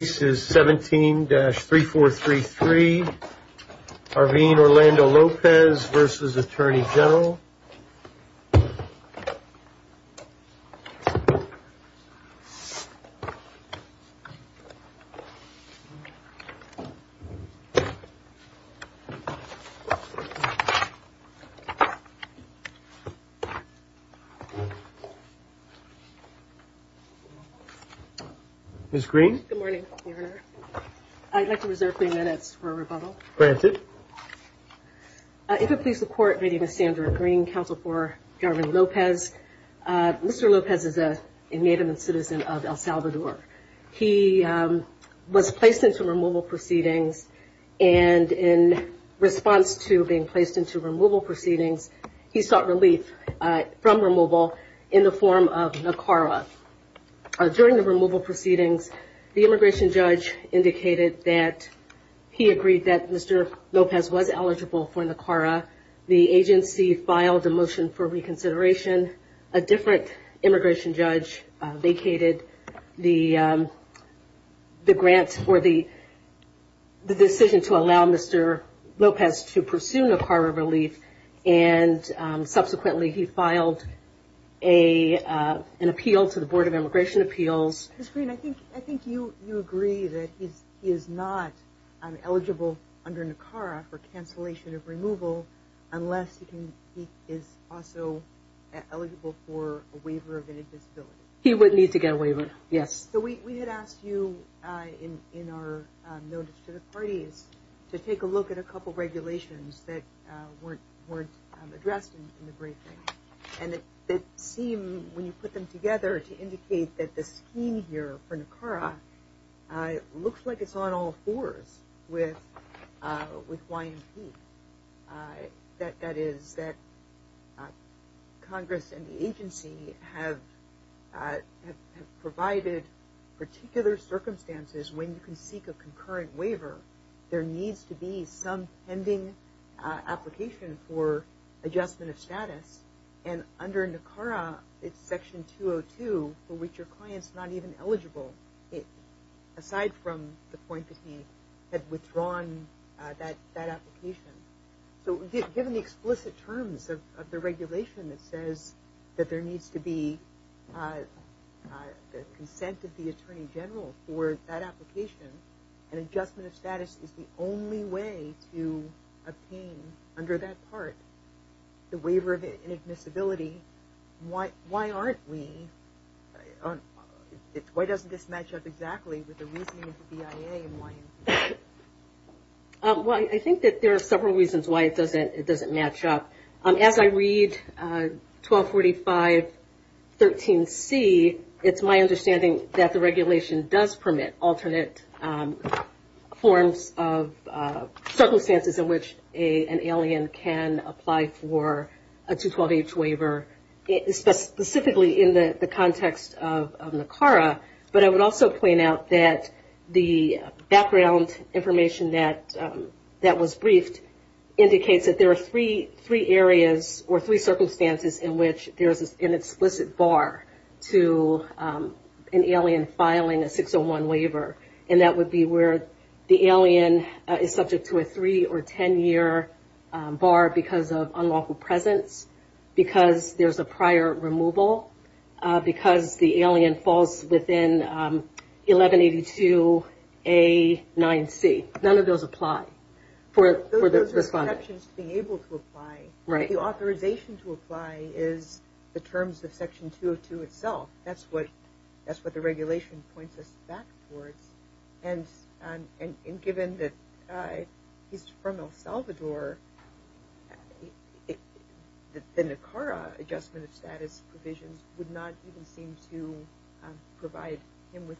This is 17-3433 Arvin Orlando Lopez v. Atty. Gen. Orlando. I'd like to reserve three minutes for rebuttal. Granted. If it please the court, my name is Sandra Green, counsel for Garvin Lopez. Mr. Lopez is a native and citizen of El Salvador. He was placed into removal proceedings and in response to being placed into removal proceedings, he sought relief from removal in the form of NACARA. During the removal proceedings, the immigration judge indicated that he agreed that Mr. Lopez was eligible for NACARA. The agency filed a motion for reconsideration. A different immigration judge vacated the grant for the decision to allow Mr. Lopez to pursue NACARA relief and subsequently he filed an appeal to the Board of Immigration Appeals. Ms. Green, I think you agree that he is not eligible under NACARA for cancellation of removal unless he is also eligible for a waiver of any disability. He would need to get a waiver, yes. So we had asked you in our notice to the parties to take a look at a couple of regulations that weren't addressed in the briefing. And it seemed when you put them together to indicate that the scheme here for NACARA looks like it's on all fours with YMP. That is that Congress and the agency have provided particular circumstances when you can seek a concurrent waiver. There needs to be some pending application for adjustment of status. And under NACARA, it's Section 202 for which your client is not even eligible. Aside from the point that he had withdrawn that application. So given the explicit terms of the regulation that says that there needs to be the consent of the Attorney General for that application, an adjustment of status is the only way to obtain under that part the waiver of inadmissibility. Why aren't we? Why doesn't this match up exactly with the reasoning of the BIA and YMP? Well, I think that there are several reasons why it doesn't match up. As I read 1245.13c, it's my understanding that the regulation does permit alternate forms of circumstances in which an alien can apply for a 212H waiver. Specifically in the context of NACARA. But I would also point out that the background information that was briefed indicates that there are three areas or three circumstances in which there is an explicit bar to an alien filing a 601 waiver. And that would be where the alien is subject to a three or ten year bar because of unlawful presence, because there's a prior removal, because the alien falls within 1182A.9c. None of those apply. Those are exceptions to being able to apply. The authorization to apply is the terms of Section 202 itself. That's what the regulation points us back towards. And given that he's from El Salvador, the NACARA adjustment of status provisions would not even seem to provide him with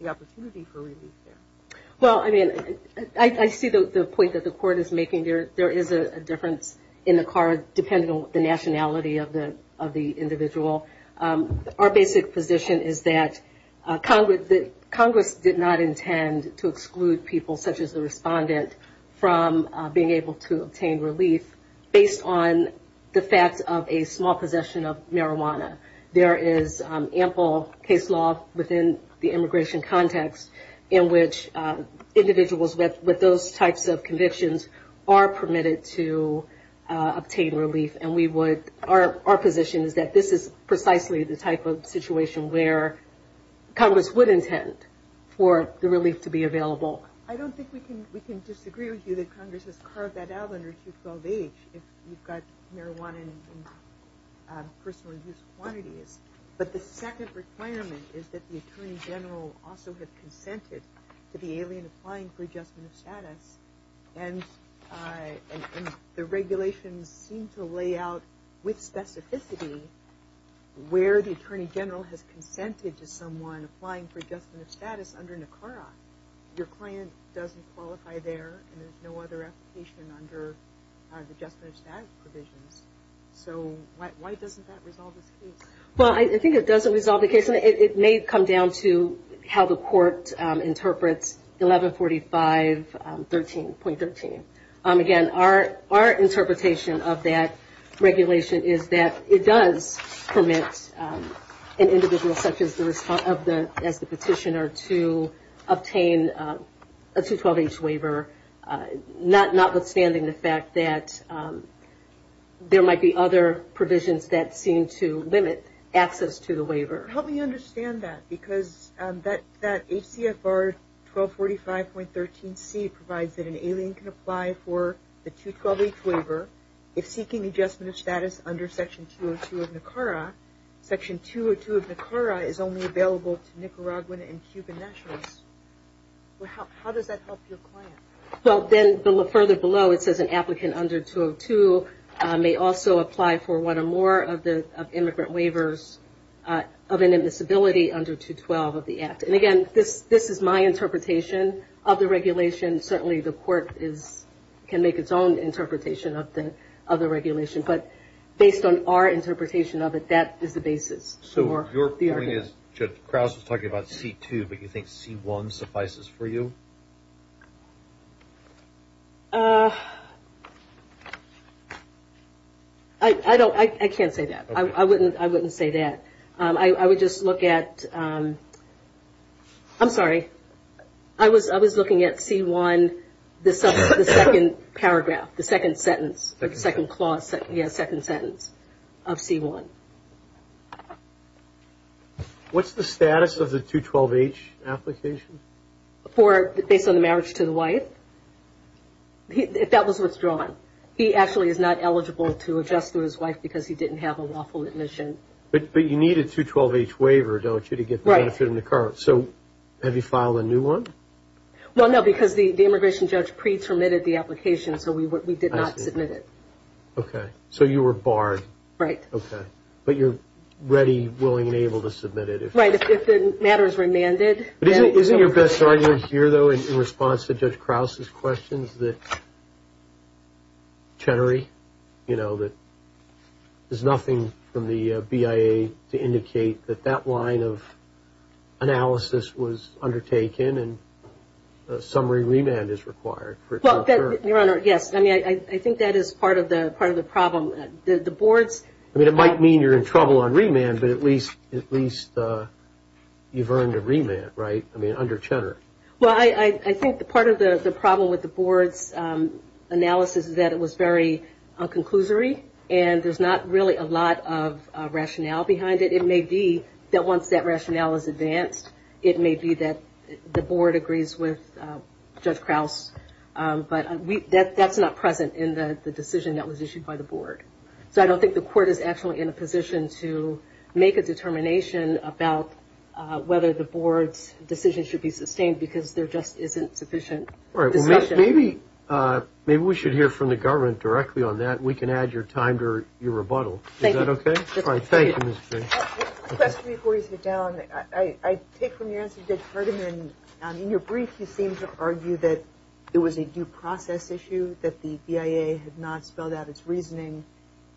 the opportunity for relief there. Well, I mean, I see the point that the Court is making. There is a difference in NACARA depending on the nationality of the individual. Our basic position is that Congress did not intend to exclude people, such as the respondent, from being able to obtain relief based on the fact of a small possession of marijuana. There is ample case law within the immigration context in which individuals with those types of convictions are permitted to obtain relief. Our position is that this is precisely the type of situation where Congress would intend for the relief to be available. I don't think we can disagree with you that Congress has carved that out under 212H if you've got marijuana in personal use quantities. But the second requirement is that the Attorney General also have consented to the alien applying for adjustment of status. And the regulations seem to lay out with specificity where the Attorney General has consented to someone applying for adjustment of status under NACARA. Your client doesn't qualify there, and there's no other application under the adjustment of status provisions. So why doesn't that resolve this case? Well, I think it doesn't resolve the case. It may come down to how the court interprets 1145.13. Again, our interpretation of that regulation is that it does permit an individual such as the petitioner to obtain a 212H waiver, notwithstanding the fact that there might be other provisions that seem to limit access to the waiver. Help me understand that, because that ACFR 1245.13C provides that an alien can apply for the 212H waiver if seeking adjustment of status under Section 202 of NACARA. Section 202 of NACARA is only available to Nicaraguan and Cuban nationals. How does that help your client? Well, then further below it says an applicant under 202 may also apply for one or more of the immigrant waivers of an admissibility under 212 of the Act. And again, this is my interpretation of the regulation. Certainly the court can make its own interpretation of the regulation. But based on our interpretation of it, that is the basis for the argument. So your point is, Judge Krause was talking about C2, but you think C1 suffices for you? I can't say that. I wouldn't say that. I would just look at – I'm sorry. I was looking at C1, the second paragraph, the second sentence, the second clause, second sentence of C1. What's the status of the 212H application? For – based on the marriage to the wife? That was withdrawn. He actually is not eligible to adjust to his wife because he didn't have a lawful admission. But you need a 212H waiver, don't you, to get the benefit under NACARA? Correct. So have you filed a new one? Well, no, because the immigration judge pre-terminated the application, so we did not submit it. Okay. So you were barred. Right. Okay. But you're ready, willing, and able to submit it. Right, if the matter is remanded. Isn't your best argument here, though, in response to Judge Krause's questions, that Chenery, you know, there's nothing from the BIA to indicate that that line of analysis was undertaken and a summary remand is required? Well, Your Honor, yes. I mean, I think that is part of the problem. The board's – I mean, it might mean you're in trouble on remand, but at least you've earned a remand, right? I mean, under Chenery. Well, I think part of the problem with the board's analysis is that it was very un-conclusory, and there's not really a lot of rationale behind it. It may be that once that rationale is advanced, it may be that the board agrees with Judge Krause, but that's not present in the decision that was issued by the board. So I don't think the court is actually in a position to make a determination about whether the board's decision should be sustained because there just isn't sufficient discussion. All right. Well, maybe we should hear from the government directly on that. We can add your time to your rebuttal. Thank you. Is that okay? All right. Thank you, Ms. King. Just a question before you sit down. I take from your answer, Judge Ferdinand, in your brief you seem to argue that it was a due process issue, that the BIA had not spelled out its reasoning.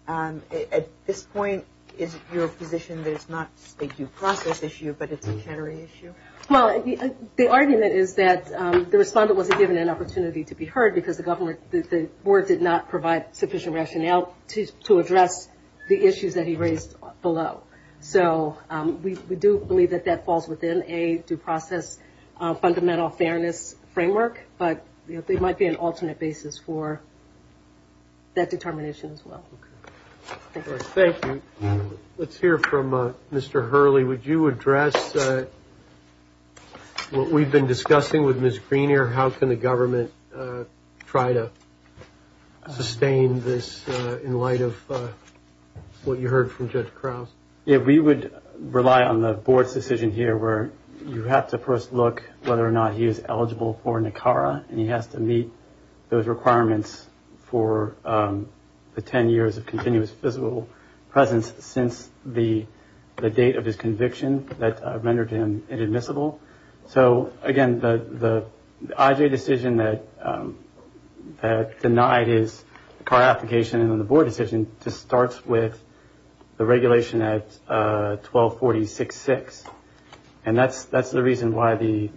At this point, is it your position that it's not a due process issue, but it's a Chenery issue? Well, the argument is that the respondent wasn't given an opportunity to be heard because the board did not provide sufficient rationale to address the issues that he raised below. So we do believe that that falls within a due process fundamental fairness framework, but there might be an alternate basis for that determination as well. Thank you. Let's hear from Mr. Hurley. Would you address what we've been discussing with Ms. Greener? How can the government try to sustain this in light of what you heard from Judge Krause? Yeah, we would rely on the board's decision here where you have to first look whether or not he is eligible for NACARA, and he has to meet those requirements for the 10 years of continuous physical presence since the date of his conviction that rendered him inadmissible. So, again, the IJ decision that denied his car application and then the board decision just starts with the regulation at 1240.66, and that's the reason why the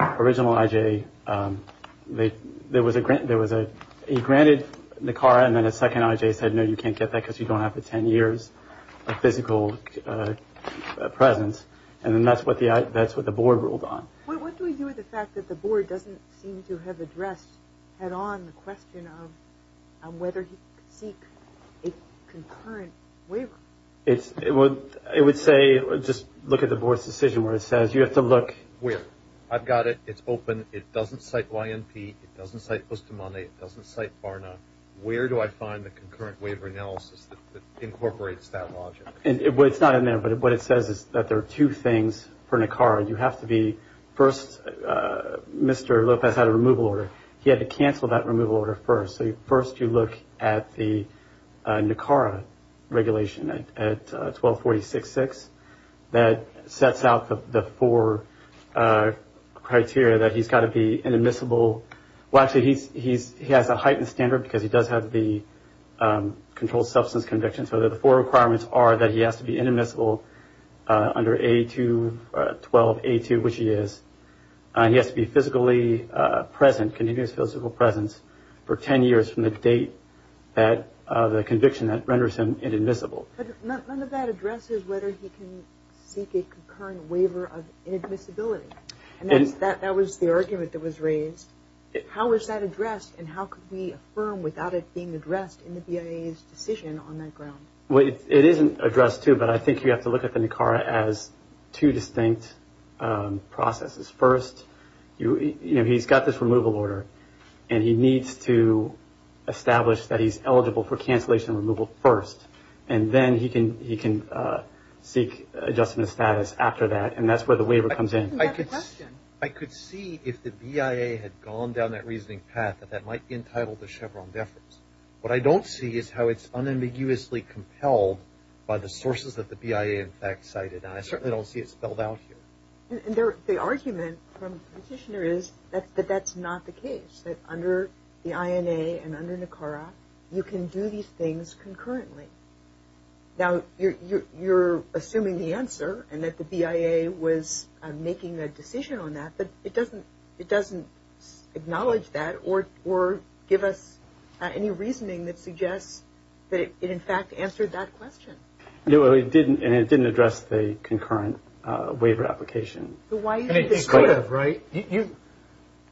original IJ, there was a grant, he granted NACARA, and then a second IJ said, no, you can't get that because you don't have the 10 years of physical presence, and then that's what the board ruled on. What do we do with the fact that the board doesn't seem to have addressed head-on the question of whether he could seek a concurrent waiver? It would say just look at the board's decision where it says you have to look. I've got it. It's open. It doesn't cite YMP. It doesn't cite Postamone. It doesn't cite Barna. Where do I find the concurrent waiver analysis that incorporates that logic? It's not in there, but what it says is that there are two things for NACARA. You have to be first, Mr. Lopez had a removal order. He had to cancel that removal order first. So first you look at the NACARA regulation at 1246.6. That sets out the four criteria that he's got to be inadmissible. Well, actually, he has a heightened standard because he does have the controlled substance conviction. So the four requirements are that he has to be inadmissible under A2, 12A2, which he is. He has to be physically present, continuous physical presence, for ten years from the date of the conviction that renders him inadmissible. None of that addresses whether he can seek a concurrent waiver of inadmissibility. That was the argument that was raised. How is that addressed, and how could we affirm without it being addressed in the BIA's decision on that ground? Well, it isn't addressed, too, but I think you have to look at the NACARA as two distinct processes. First, you know, he's got this removal order, and he needs to establish that he's eligible for cancellation removal first. And then he can seek adjustment of status after that, and that's where the waiver comes in. I could see if the BIA had gone down that reasoning path that that might be entitled to Chevron deference. What I don't see is how it's unambiguously compelled by the sources that the BIA in fact cited, and I certainly don't see it spelled out here. And the argument from the petitioner is that that's not the case, that under the INA and under NACARA, you can do these things concurrently. Now, you're assuming the answer, and that the BIA was making a decision on that, but it doesn't acknowledge that or give us any reasoning that suggests that it in fact answered that question. No, it didn't, and it didn't address the concurrent waiver application. It could have, right?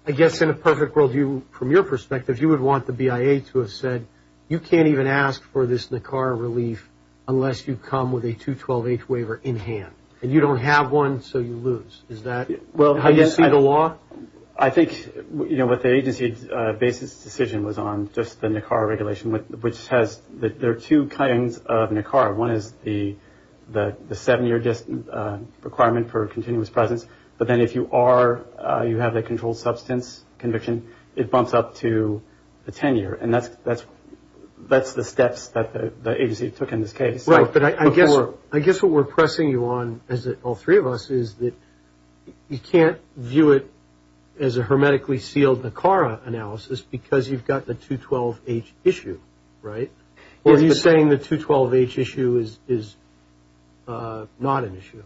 I guess in a perfect world view, from your perspective, you would want the BIA to have said, you can't even ask for this NACARA relief unless you come with a 212H waiver in hand, and you don't have one, so you lose. Is that how you see the law? I think, you know, what the agency's basis decision was on, just the NACARA regulation, which says that there are two kinds of NACARA. One is the seven-year requirement for continuous presence, but then if you are, you have a controlled substance conviction, it bumps up to the 10-year, and that's the steps that the agency took in this case. Right, but I guess what we're pressing you on, all three of us, is that you can't view it as a hermetically sealed NACARA analysis because you've got the 212H issue, right? Are you saying the 212H issue is not an issue?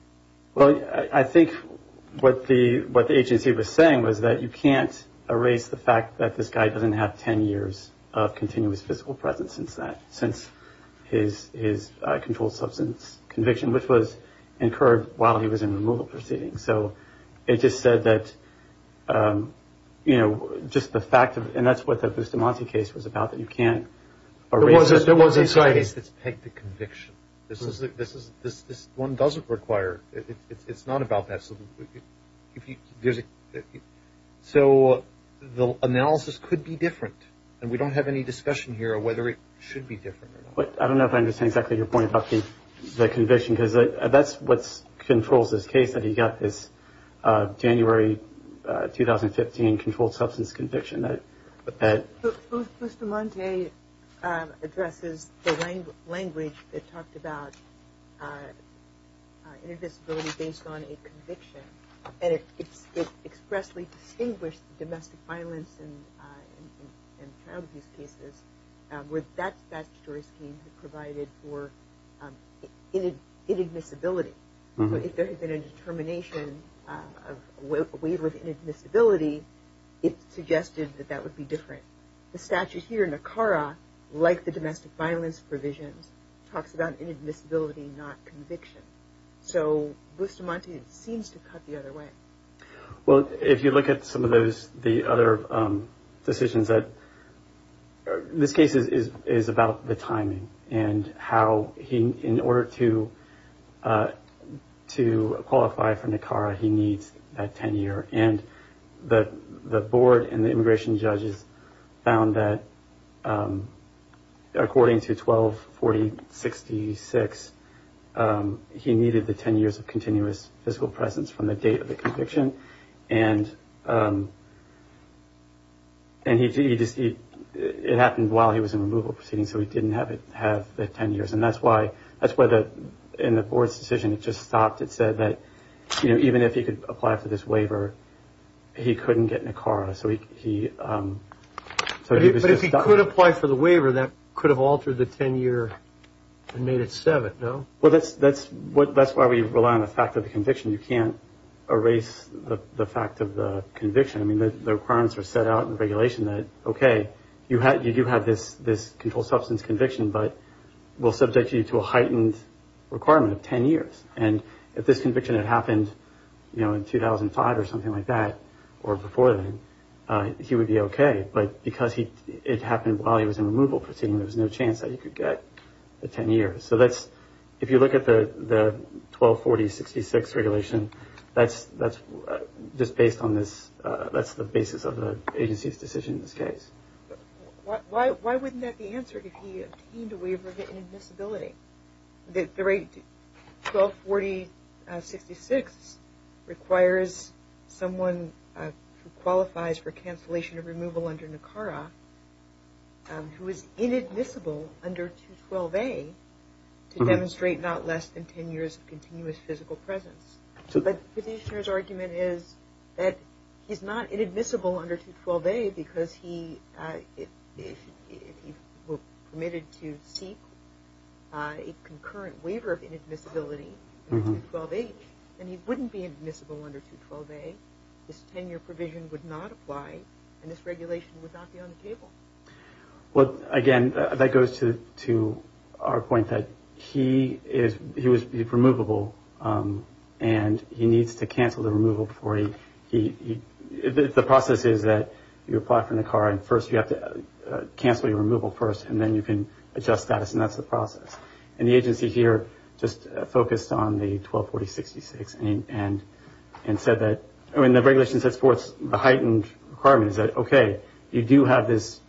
Well, I think what the agency was saying was that you can't erase the fact that this guy doesn't have 10 years of continuous physical presence since that, since his controlled substance conviction, which was incurred while he was in removal proceedings. So it just said that, you know, just the fact of it, and that's what the Bustamante case was about, that you can't erase it. There was a case that's pegged to conviction. This one doesn't require, it's not about that. So the analysis could be different, and we don't have any discussion here on whether it should be different or not. I don't know if I understand exactly your point about the conviction because that's what controls this case that he got this January 2015 controlled substance conviction. Bustamante addresses the language that talked about inadmissibility based on a conviction, and it expressly distinguished domestic violence and child abuse cases where that statutory scheme provided for inadmissibility. So if there had been a determination of a waiver of inadmissibility, it suggested that that would be different. The statute here, NACARA, like the domestic violence provisions, talks about inadmissibility, not conviction. So Bustamante seems to cut the other way. Well, if you look at some of those, the other decisions that, this case is about the timing and how he, in order to qualify for NACARA, he needs that 10-year. And the board and the immigration judges found that according to 124066, he needed the 10 years of continuous physical presence from the date of the conviction. And it happened while he was in removal proceedings, so he didn't have the 10 years. And that's why, in the board's decision, it just stopped. It said that even if he could apply for this waiver, he couldn't get NACARA. But if he could apply for the waiver, that could have altered the 10-year and made it 7, no? Well, that's why we rely on the fact of the conviction. You can't erase the fact of the conviction. I mean, the requirements were set out in the regulation that, okay, you do have this controlled substance conviction, but we'll subject you to a heightened requirement of 10 years. And if this conviction had happened in 2005 or something like that, or before then, he would be okay. But because it happened while he was in removal proceedings, there was no chance that he could get the 10 years. If you look at the 1240-66 regulation, that's just based on this. That's the basis of the agency's decision in this case. Why wouldn't that be answered if he obtained a waiver of inadmissibility? The 1240-66 requires someone who qualifies for cancellation of removal under NACARA, who is inadmissible under 212A, to demonstrate not less than 10 years of continuous physical presence. But the petitioner's argument is that he's not inadmissible under 212A because if he were permitted to seek a concurrent waiver of inadmissibility under 212H, then he wouldn't be admissible under 212A. This 10-year provision would not apply, and this regulation would not be on the table. Well, again, that goes to our point that he was removable, and he needs to cancel the removal. The process is that you apply for NACARA, and first you have to cancel your removal first, and then you can adjust status, and that's the process. The agency here just focused on the 1240-66 and said that, when the regulation sets forth the heightened requirements, that, okay, you do have this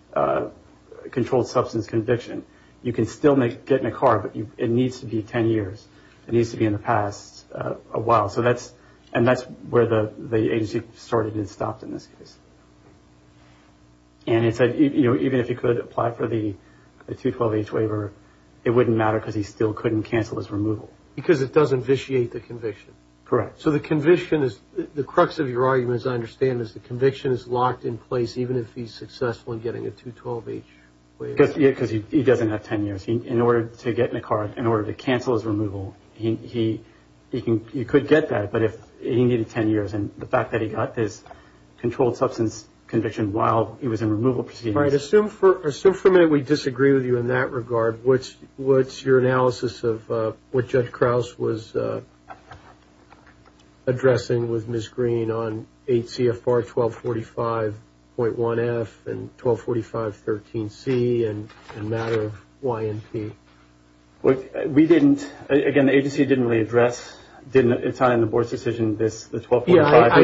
controlled substance conviction. You can still get NACARA, but it needs to be 10 years. It needs to be in the past a while, and that's where the agency started and stopped in this case. And it said, you know, even if he could apply for the 212H waiver, it wouldn't matter because he still couldn't cancel his removal. Because it doesn't vitiate the conviction. Correct. So the conviction is the crux of your argument, as I understand it, is the conviction is locked in place even if he's successful in getting a 212H waiver. Because he doesn't have 10 years. In order to get NACARA, in order to cancel his removal, he could get that, but he needed 10 years. And the fact that he got this controlled substance conviction while he was in removal proceedings. All right. Assume for a minute we disagree with you in that regard. What's your analysis of what Judge Krause was addressing with Ms. Green on 8 CFR 1245.1F and 1245.13C and the matter of YMP? We didn't, again, the agency didn't really address, it's not in the board's decision, the 1245. I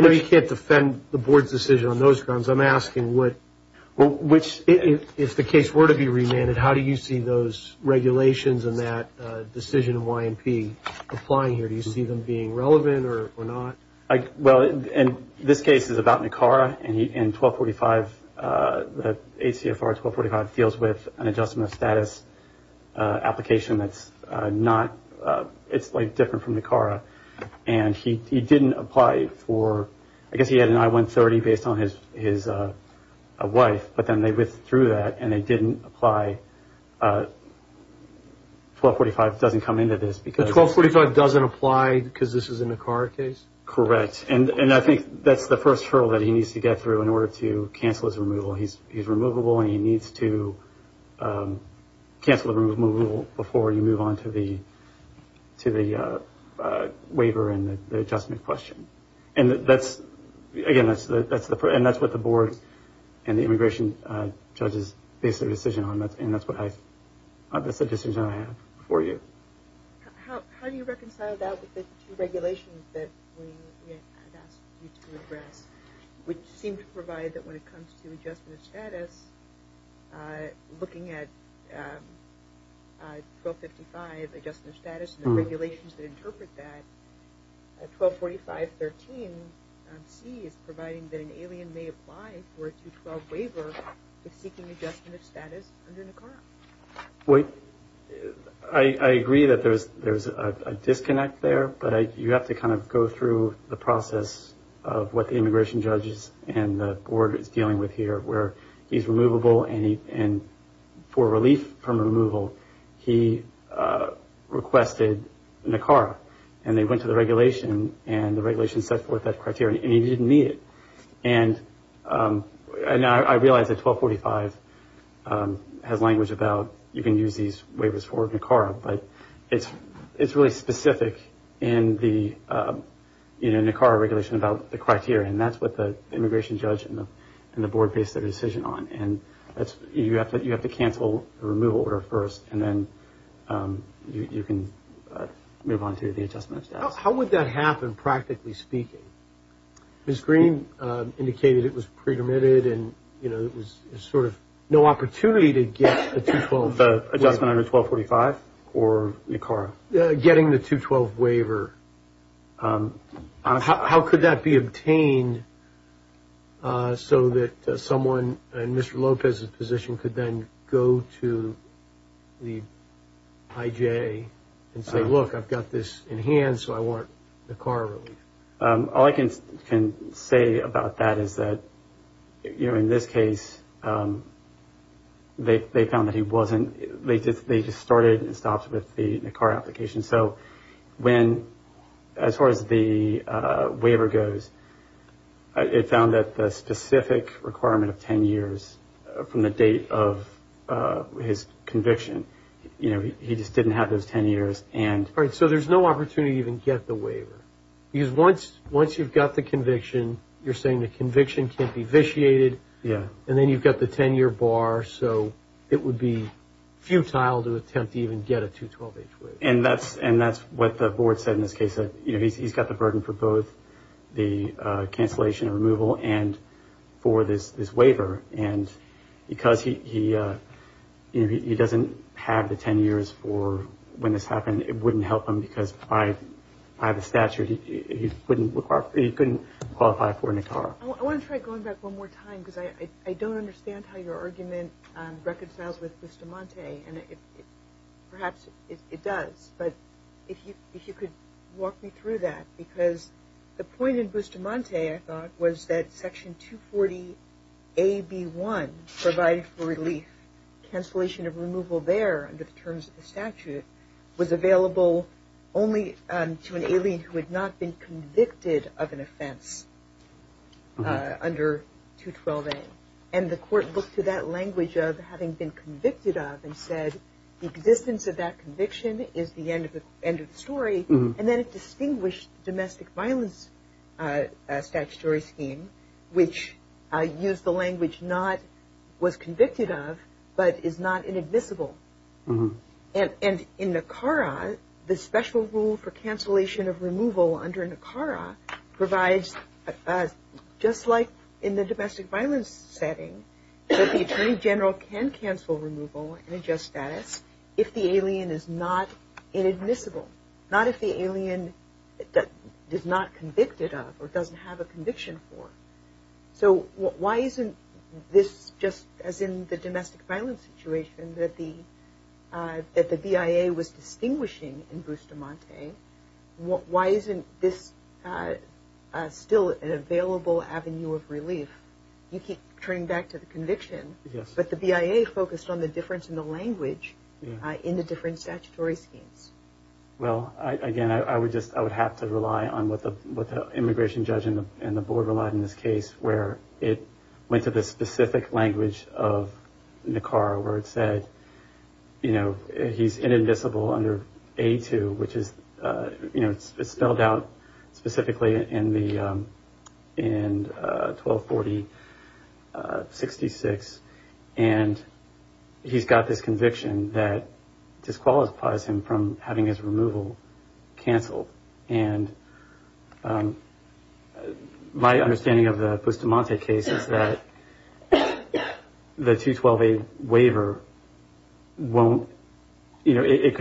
know you can't defend the board's decision on those grounds. I'm asking, if the case were to be remanded, how do you see those regulations and that decision of YMP applying here? Do you see them being relevant or not? Well, this case is about NACARA and 1245, 8 CFR 1245, deals with an adjustment of status application that's not, it's like different from NACARA. And he didn't apply for, I guess he had an I-130 based on his wife, but then they withdrew that and they didn't apply, 1245 doesn't come into this. So 1245 doesn't apply because this is a NACARA case? Correct. And I think that's the first hurdle that he needs to get through in order to cancel his removal. He's removable and he needs to cancel the removal before you move on to the waiver and the adjustment question. And that's, again, that's what the board and the immigration judges based their decision on, and that's the decision I have for you. How do you reconcile that with the two regulations that we asked you to address, which seem to provide that when it comes to adjustment of status, looking at 1255 adjustment of status and the regulations that interpret that, 1245.13C is providing that an alien may apply for a 212 waiver if seeking adjustment of status under NACARA. I agree that there's a disconnect there, but you have to kind of go through the process of what the immigration judges and the board is dealing with here where he's removable and for relief from removal, he requested NACARA and they went to the regulation and the regulation set forth that criteria and he didn't meet it. And I realize that 1245 has language about you can use these waivers for NACARA, but it's really specific in the NACARA regulation about the criteria, and that's what the immigration judge and the board based their decision on. You have to cancel the removal order first and then you can move on to the adjustment of status. How would that happen practically speaking? Ms. Green indicated it was pre-permitted and there was sort of no opportunity to get a 212 waiver. The adjustment under 1245 or NACARA? Getting the 212 waiver. How could that be obtained so that someone in Mr. Lopez's position could then go to the IJ and say, look, I've got this in hand so I want NACARA relief? All I can say about that is that in this case they found that he wasn't, they just started and stopped with the NACARA application. So when, as far as the waiver goes, it found that the specific requirement of 10 years from the date of his conviction, you know, he just didn't have those 10 years. So there's no opportunity to even get the waiver because once you've got the conviction, you're saying the conviction can't be vitiated and then you've got the 10-year bar, so it would be futile to attempt to even get a 212H waiver. And that's what the board said in this case, that he's got the burden for both the cancellation and removal and for this waiver. And because he doesn't have the 10 years for when this happened, it wouldn't help him because by the statute he couldn't qualify for NACARA. I want to try going back one more time because I don't understand how your argument reconciles with Bustamante, and perhaps it does, but if you could walk me through that. Because the point in Bustamante, I thought, was that Section 240AB1 provided for relief. Cancellation of removal there under the terms of the statute was available only to an alien who had not been convicted of an offense under 212A. And the court looked to that language of having been convicted of and said, the existence of that conviction is the end of the story. And then it distinguished domestic violence statutory scheme, which used the language not was convicted of, but is not inadmissible. And in NACARA, the special rule for cancellation of removal under NACARA provides, just like in the domestic violence setting, that the attorney general can cancel removal in a just status if the alien is not inadmissible. Not if the alien is not convicted of or doesn't have a conviction for. So why isn't this just as in the domestic violence situation that the BIA was distinguishing in Bustamante, why isn't this still an available avenue of relief? You keep turning back to the conviction, but the BIA focused on the difference in the language in the different statutory schemes. Well, again, I would have to rely on what the immigration judge and the board relied on in this case, where it went to the specific language of NACARA, where it said, you know, he's inadmissible under A2, which is spelled out specifically in 1240-66. And he's got this conviction that disqualifies him from having his removal canceled. And my understanding of the Bustamante case is that the 212A waiver won't, you know, it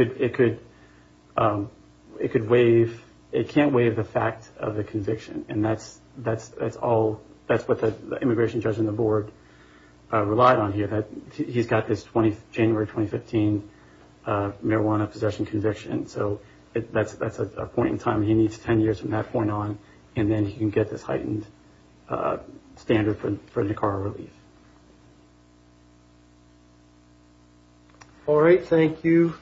could waive, it can't waive the fact of the conviction. And that's all, that's what the immigration judge and the board relied on here, that he's got this January 2015 marijuana possession conviction. So that's a point in time he needs 10 years from that point on, and then he can get this heightened standard for NACARA relief. All right. Thank you.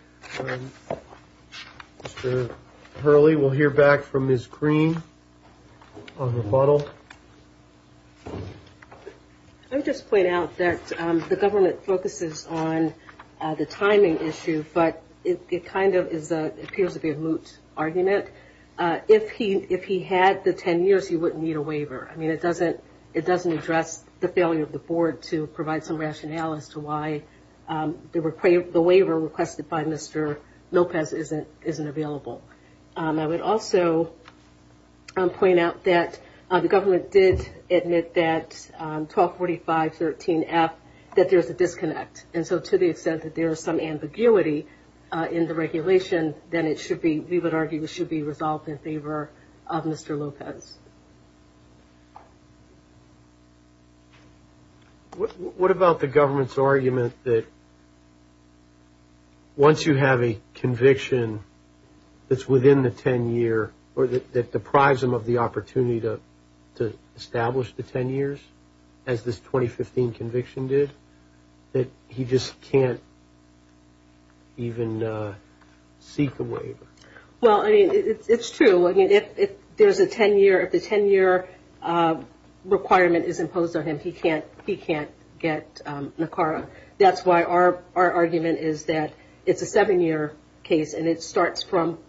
Mr. Hurley, we'll hear back from Ms. Green on the rebuttal. I would just point out that the government focuses on the timing issue, but it kind of appears to be a moot argument. If he had the 10 years, he wouldn't need a waiver. I mean, it doesn't address the failure of the board to provide some rationale as to why the waiver requested by Mr. Lopez isn't available. I would also point out that the government did admit that 1245.13F, that there's a disconnect. And so to the extent that there is some ambiguity in the regulation, then we would argue it should be resolved in favor of Mr. Lopez. What about the government's argument that once you have a conviction that's within the 10-year, or that deprives him of the opportunity to establish the 10 years, as this 2015 conviction did, that he just can't even seek a waiver? Well, I mean, it's true. I mean, if there's a 10-year, if the 10-year requirement is imposed on him, he can't get NACARA. That's why our argument is that it's a 7-year case, and it starts from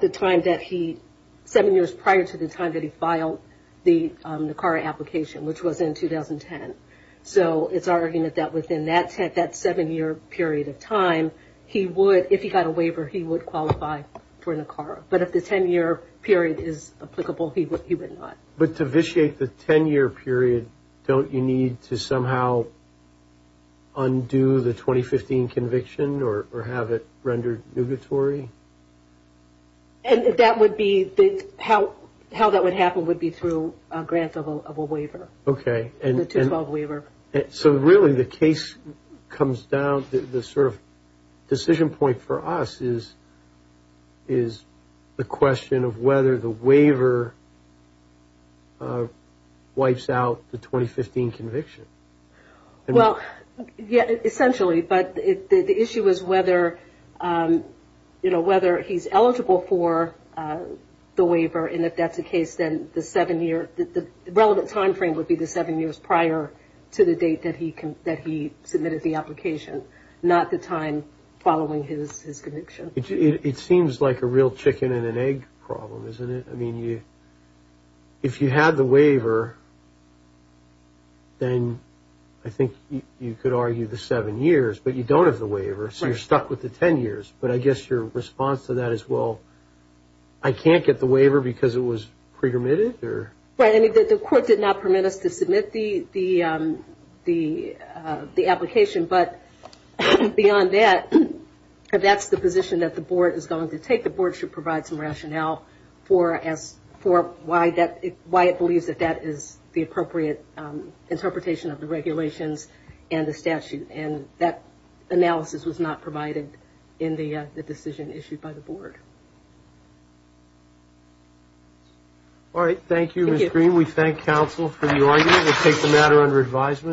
the time that he, 7 years prior to the time that he filed the NACARA application, which was in 2010. So it's our argument that within that 7-year period of time, he would, if he got a waiver, he would qualify for NACARA. But if the 10-year period is applicable, he would not. But to vitiate the 10-year period, don't you need to somehow undo the 2015 conviction or have it rendered nugatory? And that would be, how that would happen would be through a grant of a waiver. Okay. The 212 waiver. So really the case comes down to the sort of decision point for us is the question of whether the waiver wipes out the 2015 conviction. Well, yeah, essentially. But the issue is whether, you know, whether he's eligible for the waiver, and if that's the case, then the 7-year, the relevant time frame would be the 7 years prior to the date that he submitted the application, not the time following his conviction. It seems like a real chicken-and-an-egg problem, isn't it? I mean, if you had the waiver, then I think you could argue the 7 years, but you don't have the waiver, so you're stuck with the 10 years. But I guess your response to that is, well, I can't get the waiver because it was pre-permitted? Right. I mean, the court did not permit us to submit the application. But beyond that, if that's the position that the board is going to take, the board should provide some rationale for why it believes that that is the appropriate interpretation of the regulations and the statute. And that analysis was not provided in the decision issued by the board. All right. Thank you, Ms. Green. We thank counsel for the argument. We'll take the matter under advisement.